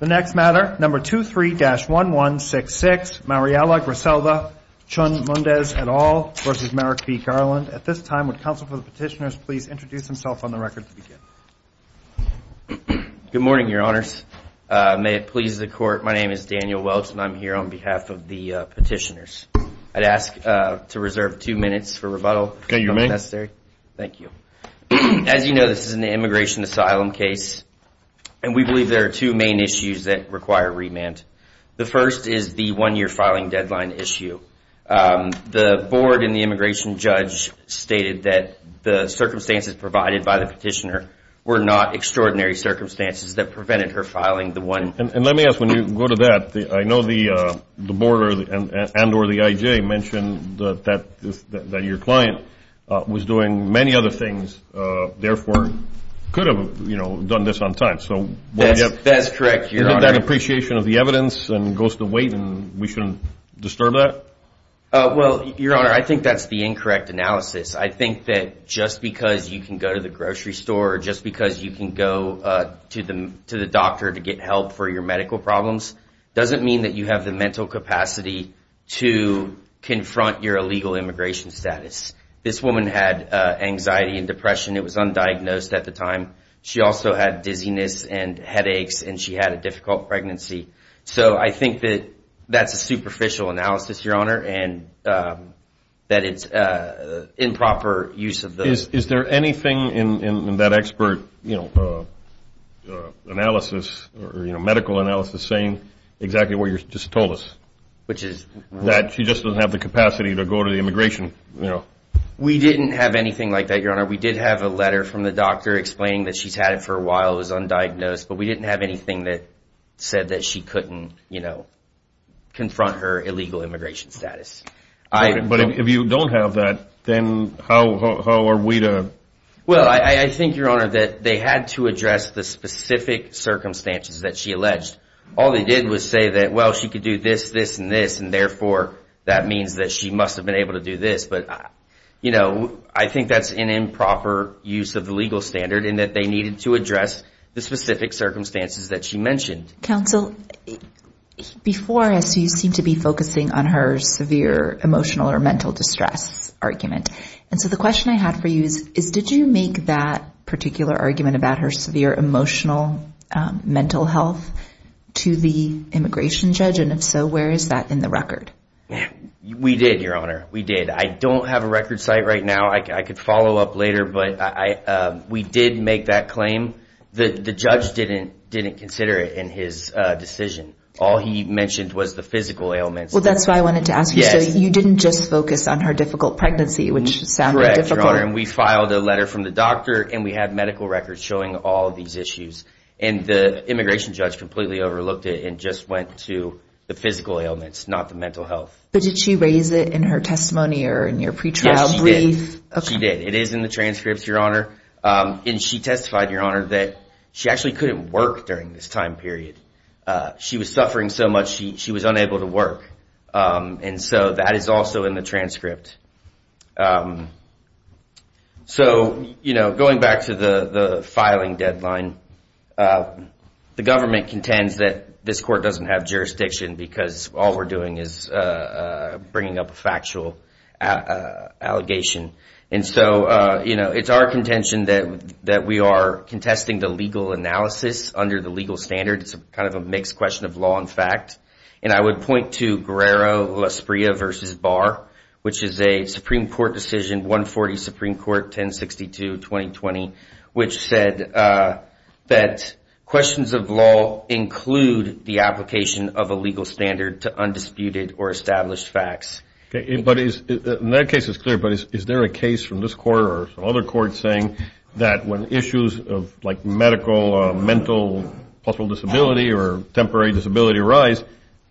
The next matter, number 23-1166, Mariala Griselda Chun-Mundes et al. versus Merrick B. Garland. At this time, would counsel for the petitioners please introduce himself on the record to begin? Good morning, your honors. May it please the court, my name is Daniel Welch, and I'm here on behalf of the petitioners. I'd ask to reserve two minutes for rebuttal, if that's necessary. Thank you. As you know, this is an immigration asylum case. And we believe there are two main issues that require remand. The first is the one-year filing deadline issue. The board and the immigration judge stated that the circumstances provided by the petitioner were not extraordinary circumstances that prevented her filing the one. And let me ask, when you go to that, I know the board and or the I.J. mentioned that your client was doing many other things, therefore could have, you know, done this on time. So would you have that appreciation of the evidence and goes to wait and we shouldn't disturb that? Well, your honor, I think that's the incorrect analysis. I think that just because you can go to the grocery store, just because you can go to the doctor to get help for your medical problems, doesn't mean that you have the mental capacity to confront your illegal immigration status. This woman had anxiety and depression. It was undiagnosed at the time. She also had dizziness and headaches and she had a difficult pregnancy. So I think that that's a superficial analysis, your honor, and that it's improper use of those. Is there anything in that expert, you know, analysis or, you know, medical analysis saying exactly what you just told us? That she just doesn't have the capacity to go to the immigration, you know. We didn't have anything like that, your honor. We did have a letter from the doctor explaining that she's had it for a while, it was undiagnosed, but we didn't have anything that said that she couldn't, you know, confront her illegal immigration status. But if you don't have that, then how are we to? Well, I think, your honor, that they had to address the specific circumstances that she alleged. All they did was say that, well, she could do this, this, and this, and therefore, that means that she must have been able to do this, but, you know, I think that's an improper use of the legal standard in that they needed to address the specific circumstances that she mentioned. Counsel, before, as you seem to be focusing on her severe emotional or mental distress argument, and so the question I have for you is, did you make that particular argument about her severe emotional mental health to the immigration judge, and if so, where is that in the record? We did, your honor. We did. I don't have a record site right now. I could follow up later, but we did make that claim. The judge didn't consider it in his decision. All he mentioned was the physical ailments. Well, that's why I wanted to ask you, so you didn't just focus on her difficult pregnancy, which sounded difficult. Correct, your honor. We filed a letter from the doctor, and we had medical records showing all of these issues, and the immigration judge completely overlooked it and just went to the physical ailments, not the mental health. But did she raise it in her testimony or in your pre-trial brief? Yes, she did. She did. It is in the transcripts, your honor, and she testified, your honor, that she actually couldn't work during this time period. She was suffering so much, she was unable to work, and so that is also in the transcript. So, you know, going back to the filing deadline, the government contends that this court doesn't have jurisdiction because all we're doing is bringing up a factual allegation. And so, you know, it's our contention that we are contesting the legal analysis under the legal standard. It's kind of a mixed question of law and fact. And I would point to Guerrero-Lasprilla v. Barr, which is a Supreme Court decision, 140 Supreme Court, 1062, 2020, which said that questions of law include the application of a legal standard to undisputed or established facts. But in that case, it's clear, but is there a case from this court or other courts saying that when issues of, like, medical, mental, possible disability, or temporary disability arise,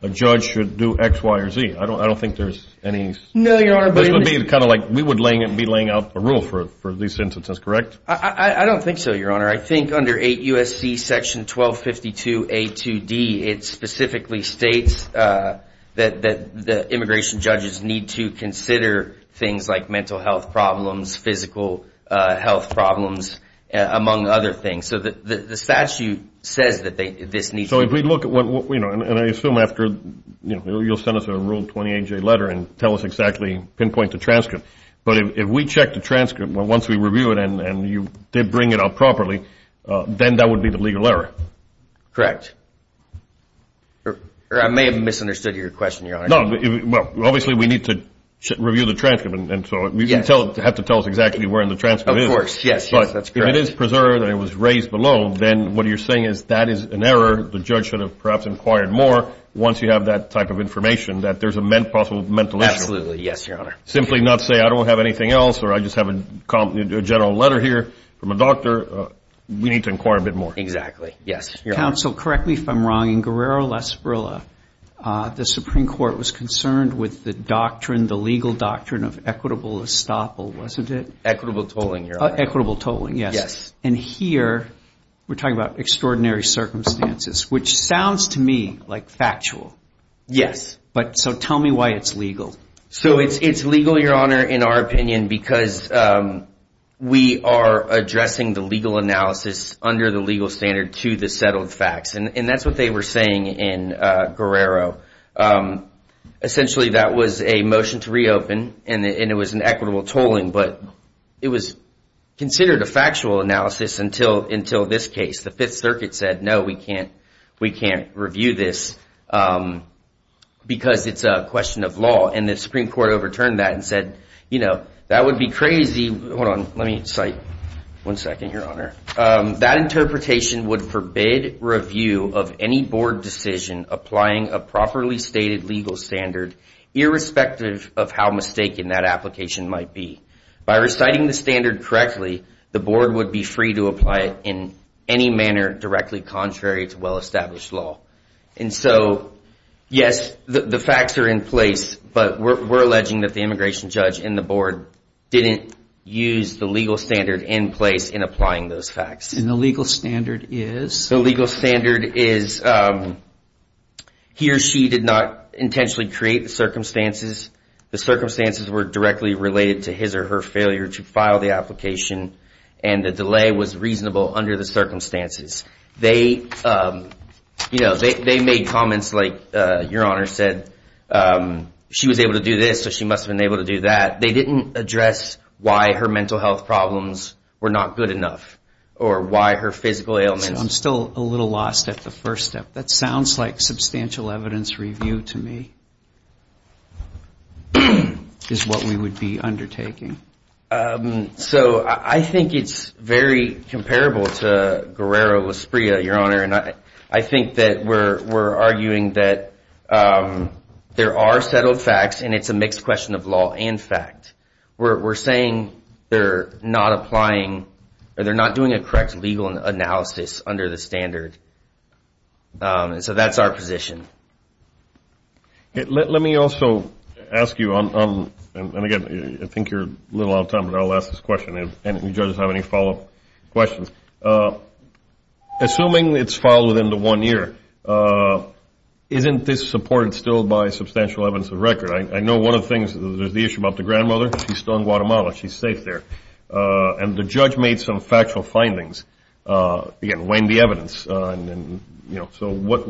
a judge should do X, Y, or Z? I don't think there's any... No, your honor, but... This would be kind of like, we would be laying out a rule for these sentences, correct? I don't think so, your honor. I think under 8 U.S.C. section 1252 A.2.D., it specifically states that the immigration judges need to consider things like mental health problems, physical health problems, among other things. So the statute says that this needs to... So if we look at what, you know, and I assume after, you know, you'll send us a Rule 28J letter and tell us exactly, pinpoint the transcript. But if we check the transcript, once we review it and you did bring it up properly, then that would be the legal error. Correct. Or I may have misunderstood your question, your honor. No. Well, obviously we need to review the transcript, and so you have to tell us exactly where in the transcript it is. Of course, yes, yes. That's correct. But if it is preserved and it was raised below, then what you're saying is that is an error. The judge should have perhaps inquired more once you have that type of information, that there's a possible mental issue. Absolutely, yes, your honor. Simply not say, I don't have anything else, or I just have a general letter here from a doctor, we need to inquire a bit more. Exactly, yes, your honor. Counsel, correct me if I'm wrong, in Guerrero-La Esparilla, the Supreme Court was concerned with the doctrine, the legal doctrine of equitable estoppel, wasn't it? Equitable tolling, your honor. Equitable tolling, yes. Yes. And here, we're talking about extraordinary circumstances, which sounds to me like factual. Yes. But, so tell me why it's legal. So it's legal, your honor, in our opinion, because we are addressing the legal analysis under the legal standard to the settled facts, and that's what they were saying in Guerrero. Essentially, that was a motion to reopen, and it was an equitable tolling, but it was considered a factual analysis until this case. The Fifth Circuit said, no, we can't review this, because it's a question of law, and the Supreme Court overturned that and said, you know, that would be crazy, hold on, let That interpretation would forbid review of any board decision applying a properly stated legal standard, irrespective of how mistaken that application might be. By reciting the standard correctly, the board would be free to apply it in any manner directly contrary to well-established law. And so, yes, the facts are in place, but we're alleging that the immigration judge and the board didn't use the legal standard in place in applying those facts. And the legal standard is? The legal standard is he or she did not intentionally create the circumstances. The circumstances were directly related to his or her failure to file the application, and the delay was reasonable under the circumstances. They, you know, they made comments like, your honor said, she was able to do this, so she must have been able to do that. They didn't address why her mental health problems were not good enough, or why her physical ailments. So I'm still a little lost at the first step. That sounds like substantial evidence review to me is what we would be undertaking. So I think it's very comparable to Guerrero-Lasprilla, your honor, and I think that we're arguing that there are settled facts, and it's a mixed question of law and fact. We're saying they're not applying, or they're not doing a correct legal analysis under the standard, and so that's our position. Let me also ask you, and again, I think you're a little out of time, but I'll ask this question if any judges have any follow-up questions. Assuming it's filed within the one year, isn't this supported still by substantial evidence of record? I know one of the things, there's the issue about the grandmother, she's still in Guatemala, she's safe there. And the judge made some factual findings, again, weighing the evidence, and, you know, so what,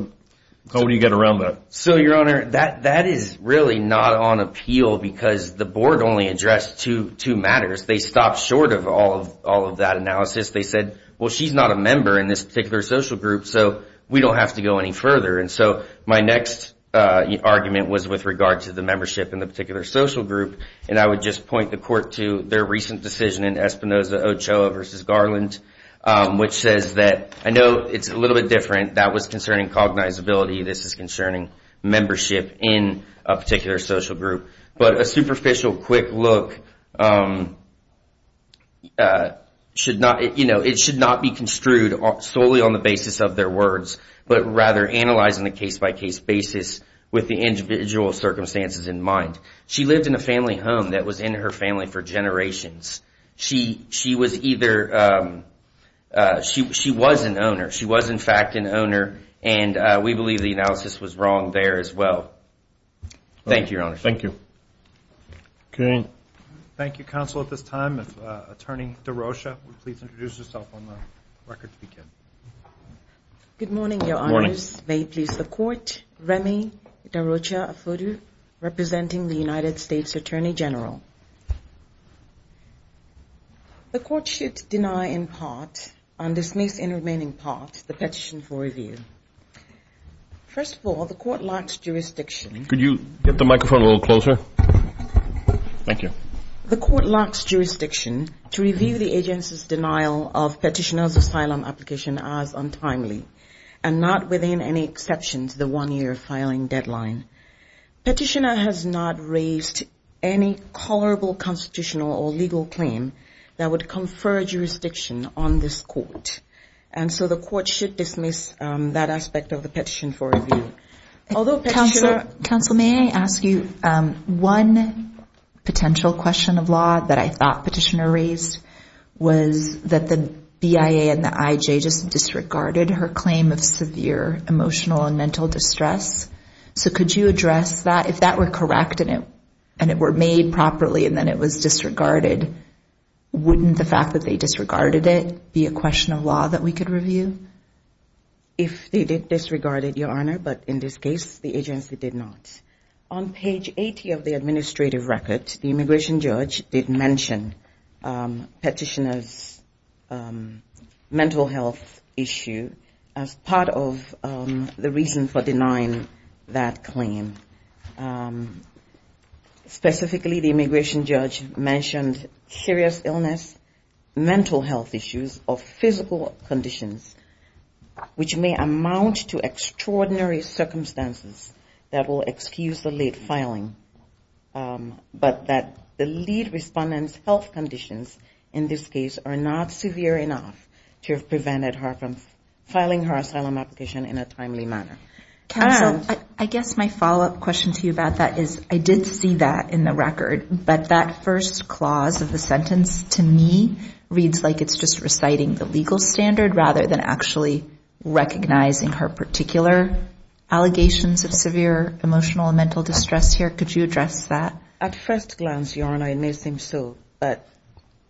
how do you get around that? So your honor, that is really not on appeal because the board only addressed two matters. They stopped short of all of that analysis. They said, well, she's not a member in this particular social group, so we don't have to go any further. And so my next argument was with regard to the membership in the particular social group, and I would just point the court to their recent decision in Espinoza-Ochoa v. Garland, which says that, I know it's a little bit different, that was concerning cognizability, this is concerning membership in a particular social group. But a superficial quick look should not, you know, it should not be construed solely on the basis of their words, but rather analyzing the case-by-case basis with the individual circumstances in mind. She lived in a family home that was in her family for generations. She was either, she was an owner, she was in fact an owner, and we believe the analysis was wrong there as well. Thank you, Your Honor. Thank you. Okay. Thank you, counsel. At this time, Attorney DeRocha will please introduce herself on the record to begin. Good morning, Your Honors. Good morning. May it please the Court. Remy DeRocha Afudu, representing the United States Attorney General. The Court should deny in part, and dismiss in remaining part, the petition for review. First of all, the Court locks jurisdiction. Could you get the microphone a little closer? Thank you. The Court locks jurisdiction to review the agency's denial of petitioner's asylum application as untimely, and not within any exception to the one-year filing deadline. Petitioner has not raised any tolerable constitutional or legal claim that would confer jurisdiction on this Court. The Court should dismiss that aspect of the petition for review. Counsel, may I ask you, one potential question of law that I thought petitioner raised was that the BIA and the IJ just disregarded her claim of severe emotional and mental distress. Could you address that? If that were correct, and it were made properly, and then it was disregarded, wouldn't the law that we could review? If they did disregard it, Your Honor, but in this case, the agency did not. On page 80 of the administrative record, the immigration judge did mention petitioner's mental health issue as part of the reason for denying that claim. Specifically, the immigration judge mentioned serious illness, mental health issues, or physical conditions, which may amount to extraordinary circumstances that will excuse the late filing, but that the lead respondent's health conditions in this case are not severe enough to have prevented her from filing her asylum application in a timely manner. Counsel, I guess my follow-up question to you about that is I did see that in the record, but that first clause of the sentence to me reads like it's just reciting the legal standard rather than actually recognizing her particular allegations of severe emotional and mental distress here. Could you address that? At first glance, Your Honor, it may seem so, but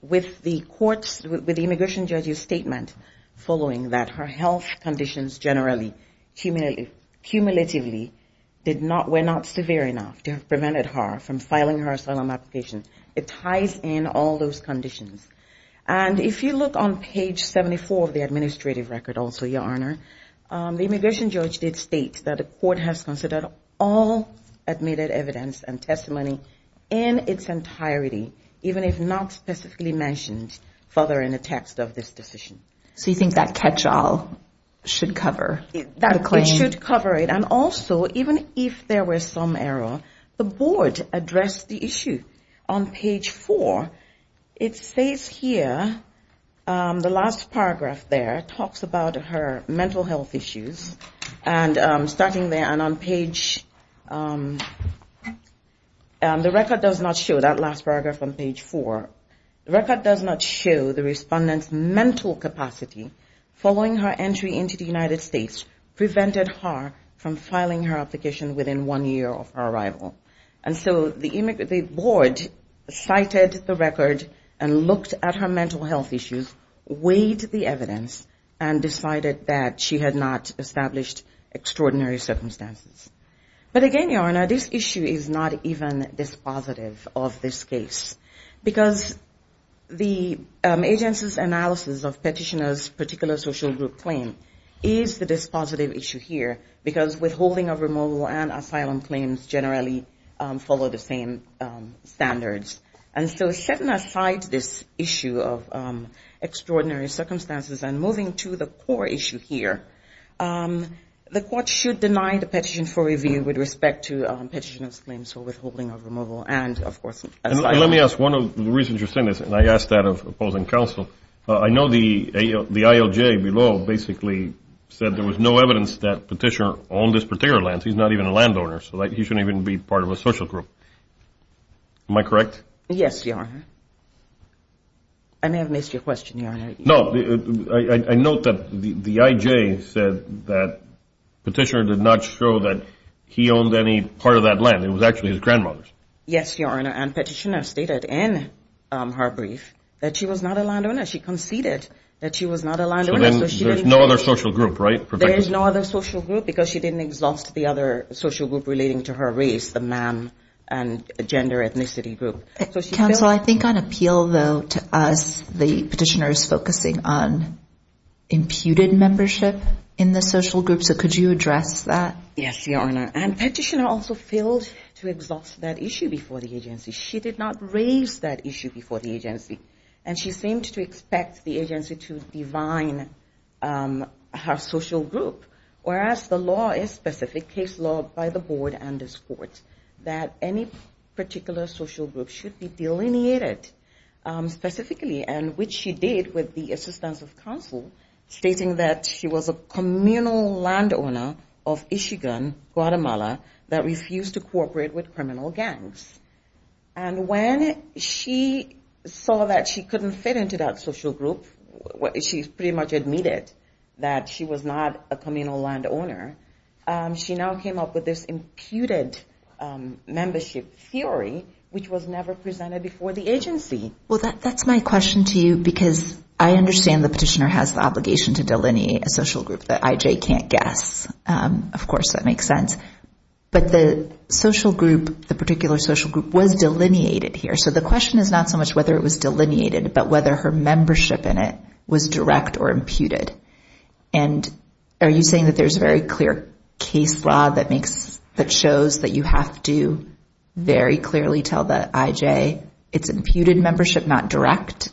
with the immigration judge's statement that her health conditions generally, cumulatively, were not severe enough to have prevented her from filing her asylum application, it ties in all those conditions. And if you look on page 74 of the administrative record also, Your Honor, the immigration judge did state that the court has considered all admitted evidence and testimony in its entirety, even if not specifically mentioned further in the text of this decision. So you think that catch-all should cover the claim? It should cover it. And also, even if there were some error, the board addressed the issue on page 4. It says here, the last paragraph there talks about her mental health issues, and starting there, and on page, the record does not show that last paragraph on page 4. The record does not show the respondent's mental capacity following her entry into the United States prevented her from filing her application within one year of her arrival. And so the board cited the record and looked at her mental health issues, weighed the evidence, and decided that she had not established extraordinary circumstances. But again, Your Honor, this issue is not even dispositive of this case, because the agency's analysis of petitioner's particular social group claim is the dispositive issue here, because withholding of removal and asylum claims generally follow the same standards. And so setting aside this issue of extraordinary circumstances and moving to the core issue here, the court should deny the petition for review with respect to petitioner's claims for withholding of removal and, of course, asylum. Let me ask one of the reasons you're saying this, and I ask that of opposing counsel. I know the ILJ below basically said there was no evidence that petitioner owned this particular land. He's not even a landowner, so he shouldn't even be part of a social group. Am I correct? Yes, Your Honor. I may have missed your question, Your Honor. No, I note that the IJ said that petitioner did not show that he owned any part of that land. It was actually his grandmother's. Yes, Your Honor, and petitioner stated in her brief that she was not a landowner. She conceded that she was not a landowner. So there's no other social group, right? There is no other social group because she didn't exhaust the other social group relating to her race, the man and gender ethnicity group. Counsel, I think on appeal, though, to us, the petitioner is focusing on imputed membership in the social group. So could you address that? Yes, Your Honor, and petitioner also failed to exhaust that issue before the agency. She did not raise that issue before the agency, and she seemed to expect the agency to divine her social group, whereas the law is specific, case law by the board and this court, that any particular social group should be delineated specifically, and which she did with the assistance of counsel, stating that she was a communal landowner of Ishigun, Guatemala, that refused to cooperate with criminal gangs. And when she saw that she couldn't fit into that social group, she pretty much admitted that she was not a communal landowner. She now came up with this imputed membership theory, which was never presented before the agency. Well, that's my question to you because I understand the petitioner has the obligation to delineate a social group that IJ can't guess. Of course, that makes sense. But the social group, the particular social group, was delineated here. So the question is not so much whether it was delineated, but whether her membership in it was direct or imputed. And are you saying that there's very clear case law that shows that you have to very clearly tell the IJ it's imputed membership, not direct?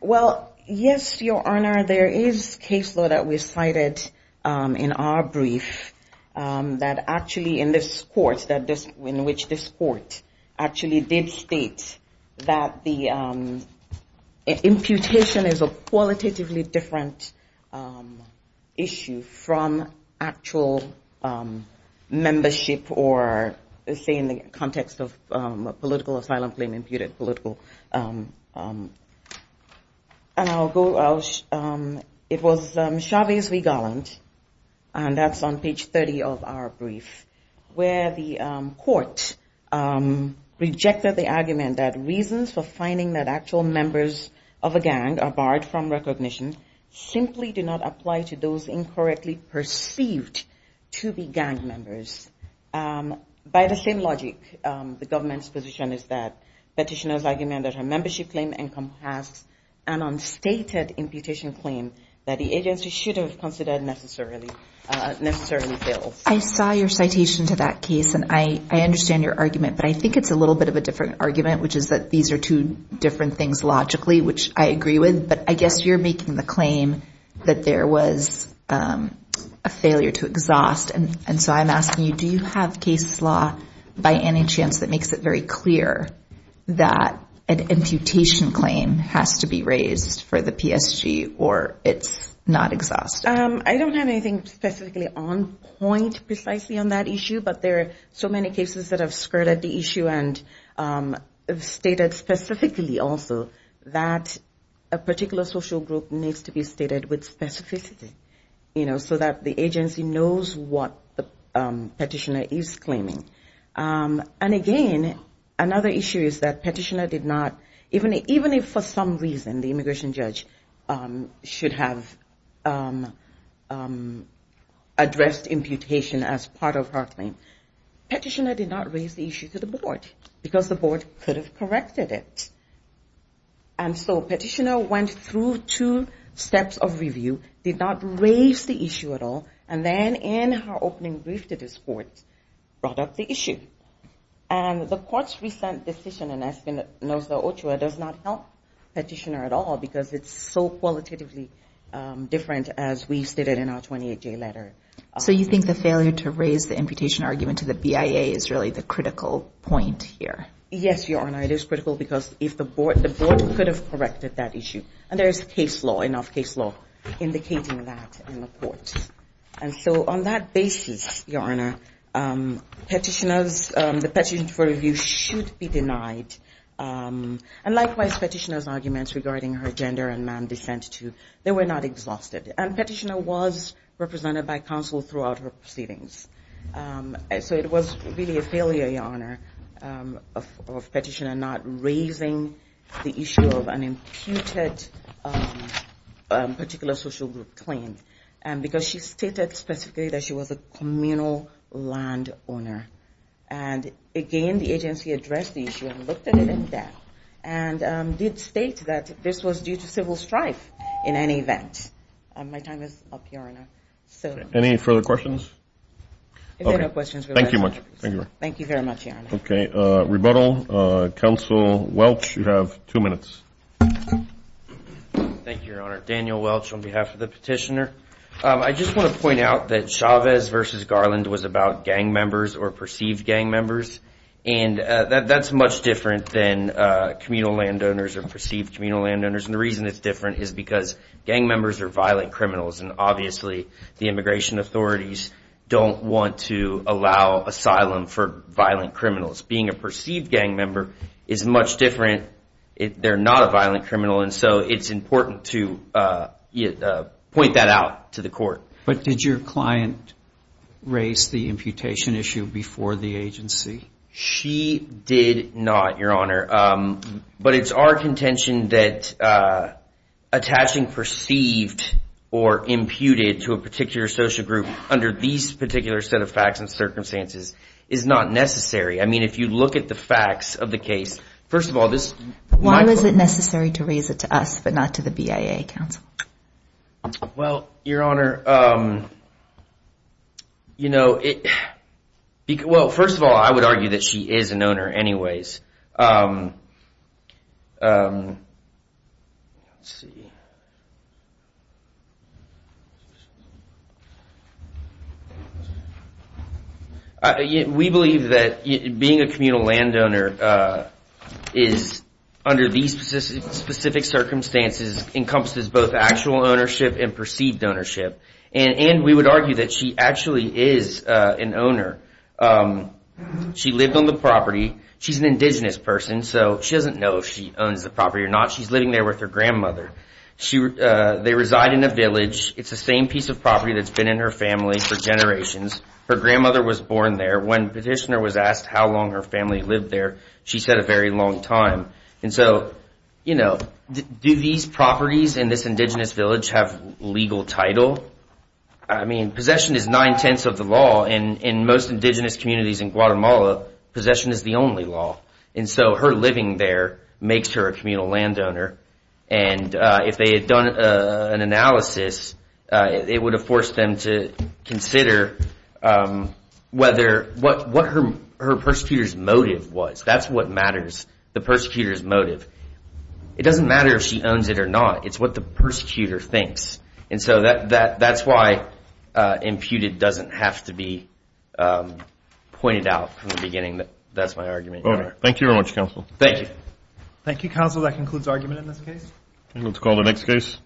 Well, yes, Your Honor. Your Honor, there is case law that was cited in our brief that actually in this court, in which this court actually did state that the imputation is a qualitatively different issue from actual membership or, say, in the context of political asylum claim, imputed political. And I'll go, it was Chavez v. Garland, and that's on page 30 of our brief, where the court rejected the argument that reasons for finding that actual members of a gang are barred from recognition simply do not apply to those incorrectly perceived to be gang members. By the same logic, the government's position is that petitioners argument that her membership claim encompasses an unstated imputation claim that the agency should have considered necessarily failed. I saw your citation to that case, and I understand your argument. But I think it's a little bit of a different argument, which is that these are two different things logically, which I agree with. But I guess you're making the claim that there was a failure to exhaust. And so I'm asking you, do you have case law by any chance that makes it very clear that an imputation claim has to be raised for the PSG or it's not exhaust? I don't have anything specifically on point precisely on that issue. But there are so many cases that have skirted the issue and stated specifically also that a particular social group needs to be stated with specificity, you know, so that the agency knows what the petitioner is claiming. And again, another issue is that petitioner did not, even if for some reason the immigration judge should have addressed imputation as part of her claim, petitioner did not raise the issue to the board because the board could have corrected it. And so petitioner went through two steps of review, did not raise the issue at all, and then in her opening brief to this court brought up the issue. And the court's recent decision in Espinosa-Ochoa does not help petitioner at all because it's so qualitatively different as we stated in our 28-J letter. So you think the failure to raise the imputation argument to the BIA is really the critical point here? Yes, Your Honor, it is critical because if the board, the board could have corrected that issue. And there is case law, enough case law indicating that in the court. And so on that basis, Your Honor, petitioners, the petition for review should be denied. And likewise, petitioner's arguments regarding her gender and man descent too, they were not exhausted. And petitioner was represented by counsel throughout her proceedings. So it was really a failure, Your Honor, of petitioner not raising the issue of an imputed particular social group claim. Because she stated specifically that she was a communal land owner. And again, the agency addressed the issue and looked at it in depth and did state that this was due to civil strife in any event. My time is up, Your Honor. Any further questions? If there are no questions. Thank you very much. Thank you very much, Your Honor. Okay. Rebuttal. Counsel Welch, you have two minutes. Thank you, Your Honor. Daniel Welch on behalf of the petitioner. I just want to point out that Chavez v. Garland was about gang members or perceived gang members. And that's much different than communal land owners or perceived communal land owners. And the reason it's different is because gang members are violent criminals. And obviously, the immigration authorities don't want to allow asylum for violent criminals. Being a perceived gang member is much different. They're not a violent criminal. And so it's important to point that out to the court. But did your client raise the imputation issue before the agency? She did not, Your Honor. But it's our contention that attaching perceived or imputed to a particular social group under these particular set of facts and circumstances is not necessary. I mean, if you look at the facts of the case, first of all, this is my point. Why was it necessary to raise it to us but not to the BIA counsel? Well, Your Honor, you know, well, first of all, I would argue that she is an owner anyways. Let's see. We believe that being a communal land owner is under these specific circumstances encompasses both actual ownership and perceived ownership. And we would argue that she actually is an owner. She lived on the property. She's an indigenous person, so she doesn't know if she owns the property or not. She's living there with her grandmother. They reside in a village. It's the same piece of property that's been in her family for generations. Her grandmother was born there. When petitioner was asked how long her family lived there, she said a very long time. And so, you know, do these properties in this indigenous village have legal title? I mean, possession is nine-tenths of the law. In most indigenous communities in Guatemala, possession is the only law. And so her living there makes her a communal land owner. And if they had done an analysis, it would have forced them to consider whether what her persecutor's motive was. That's what matters, the persecutor's motive. It doesn't matter if she owns it or not. It's what the persecutor thinks. And so that's why imputed doesn't have to be pointed out from the beginning. That's my argument. All right. Thank you very much, counsel. Thank you. Thank you, counsel. That concludes argument in this case. Let's call the next case.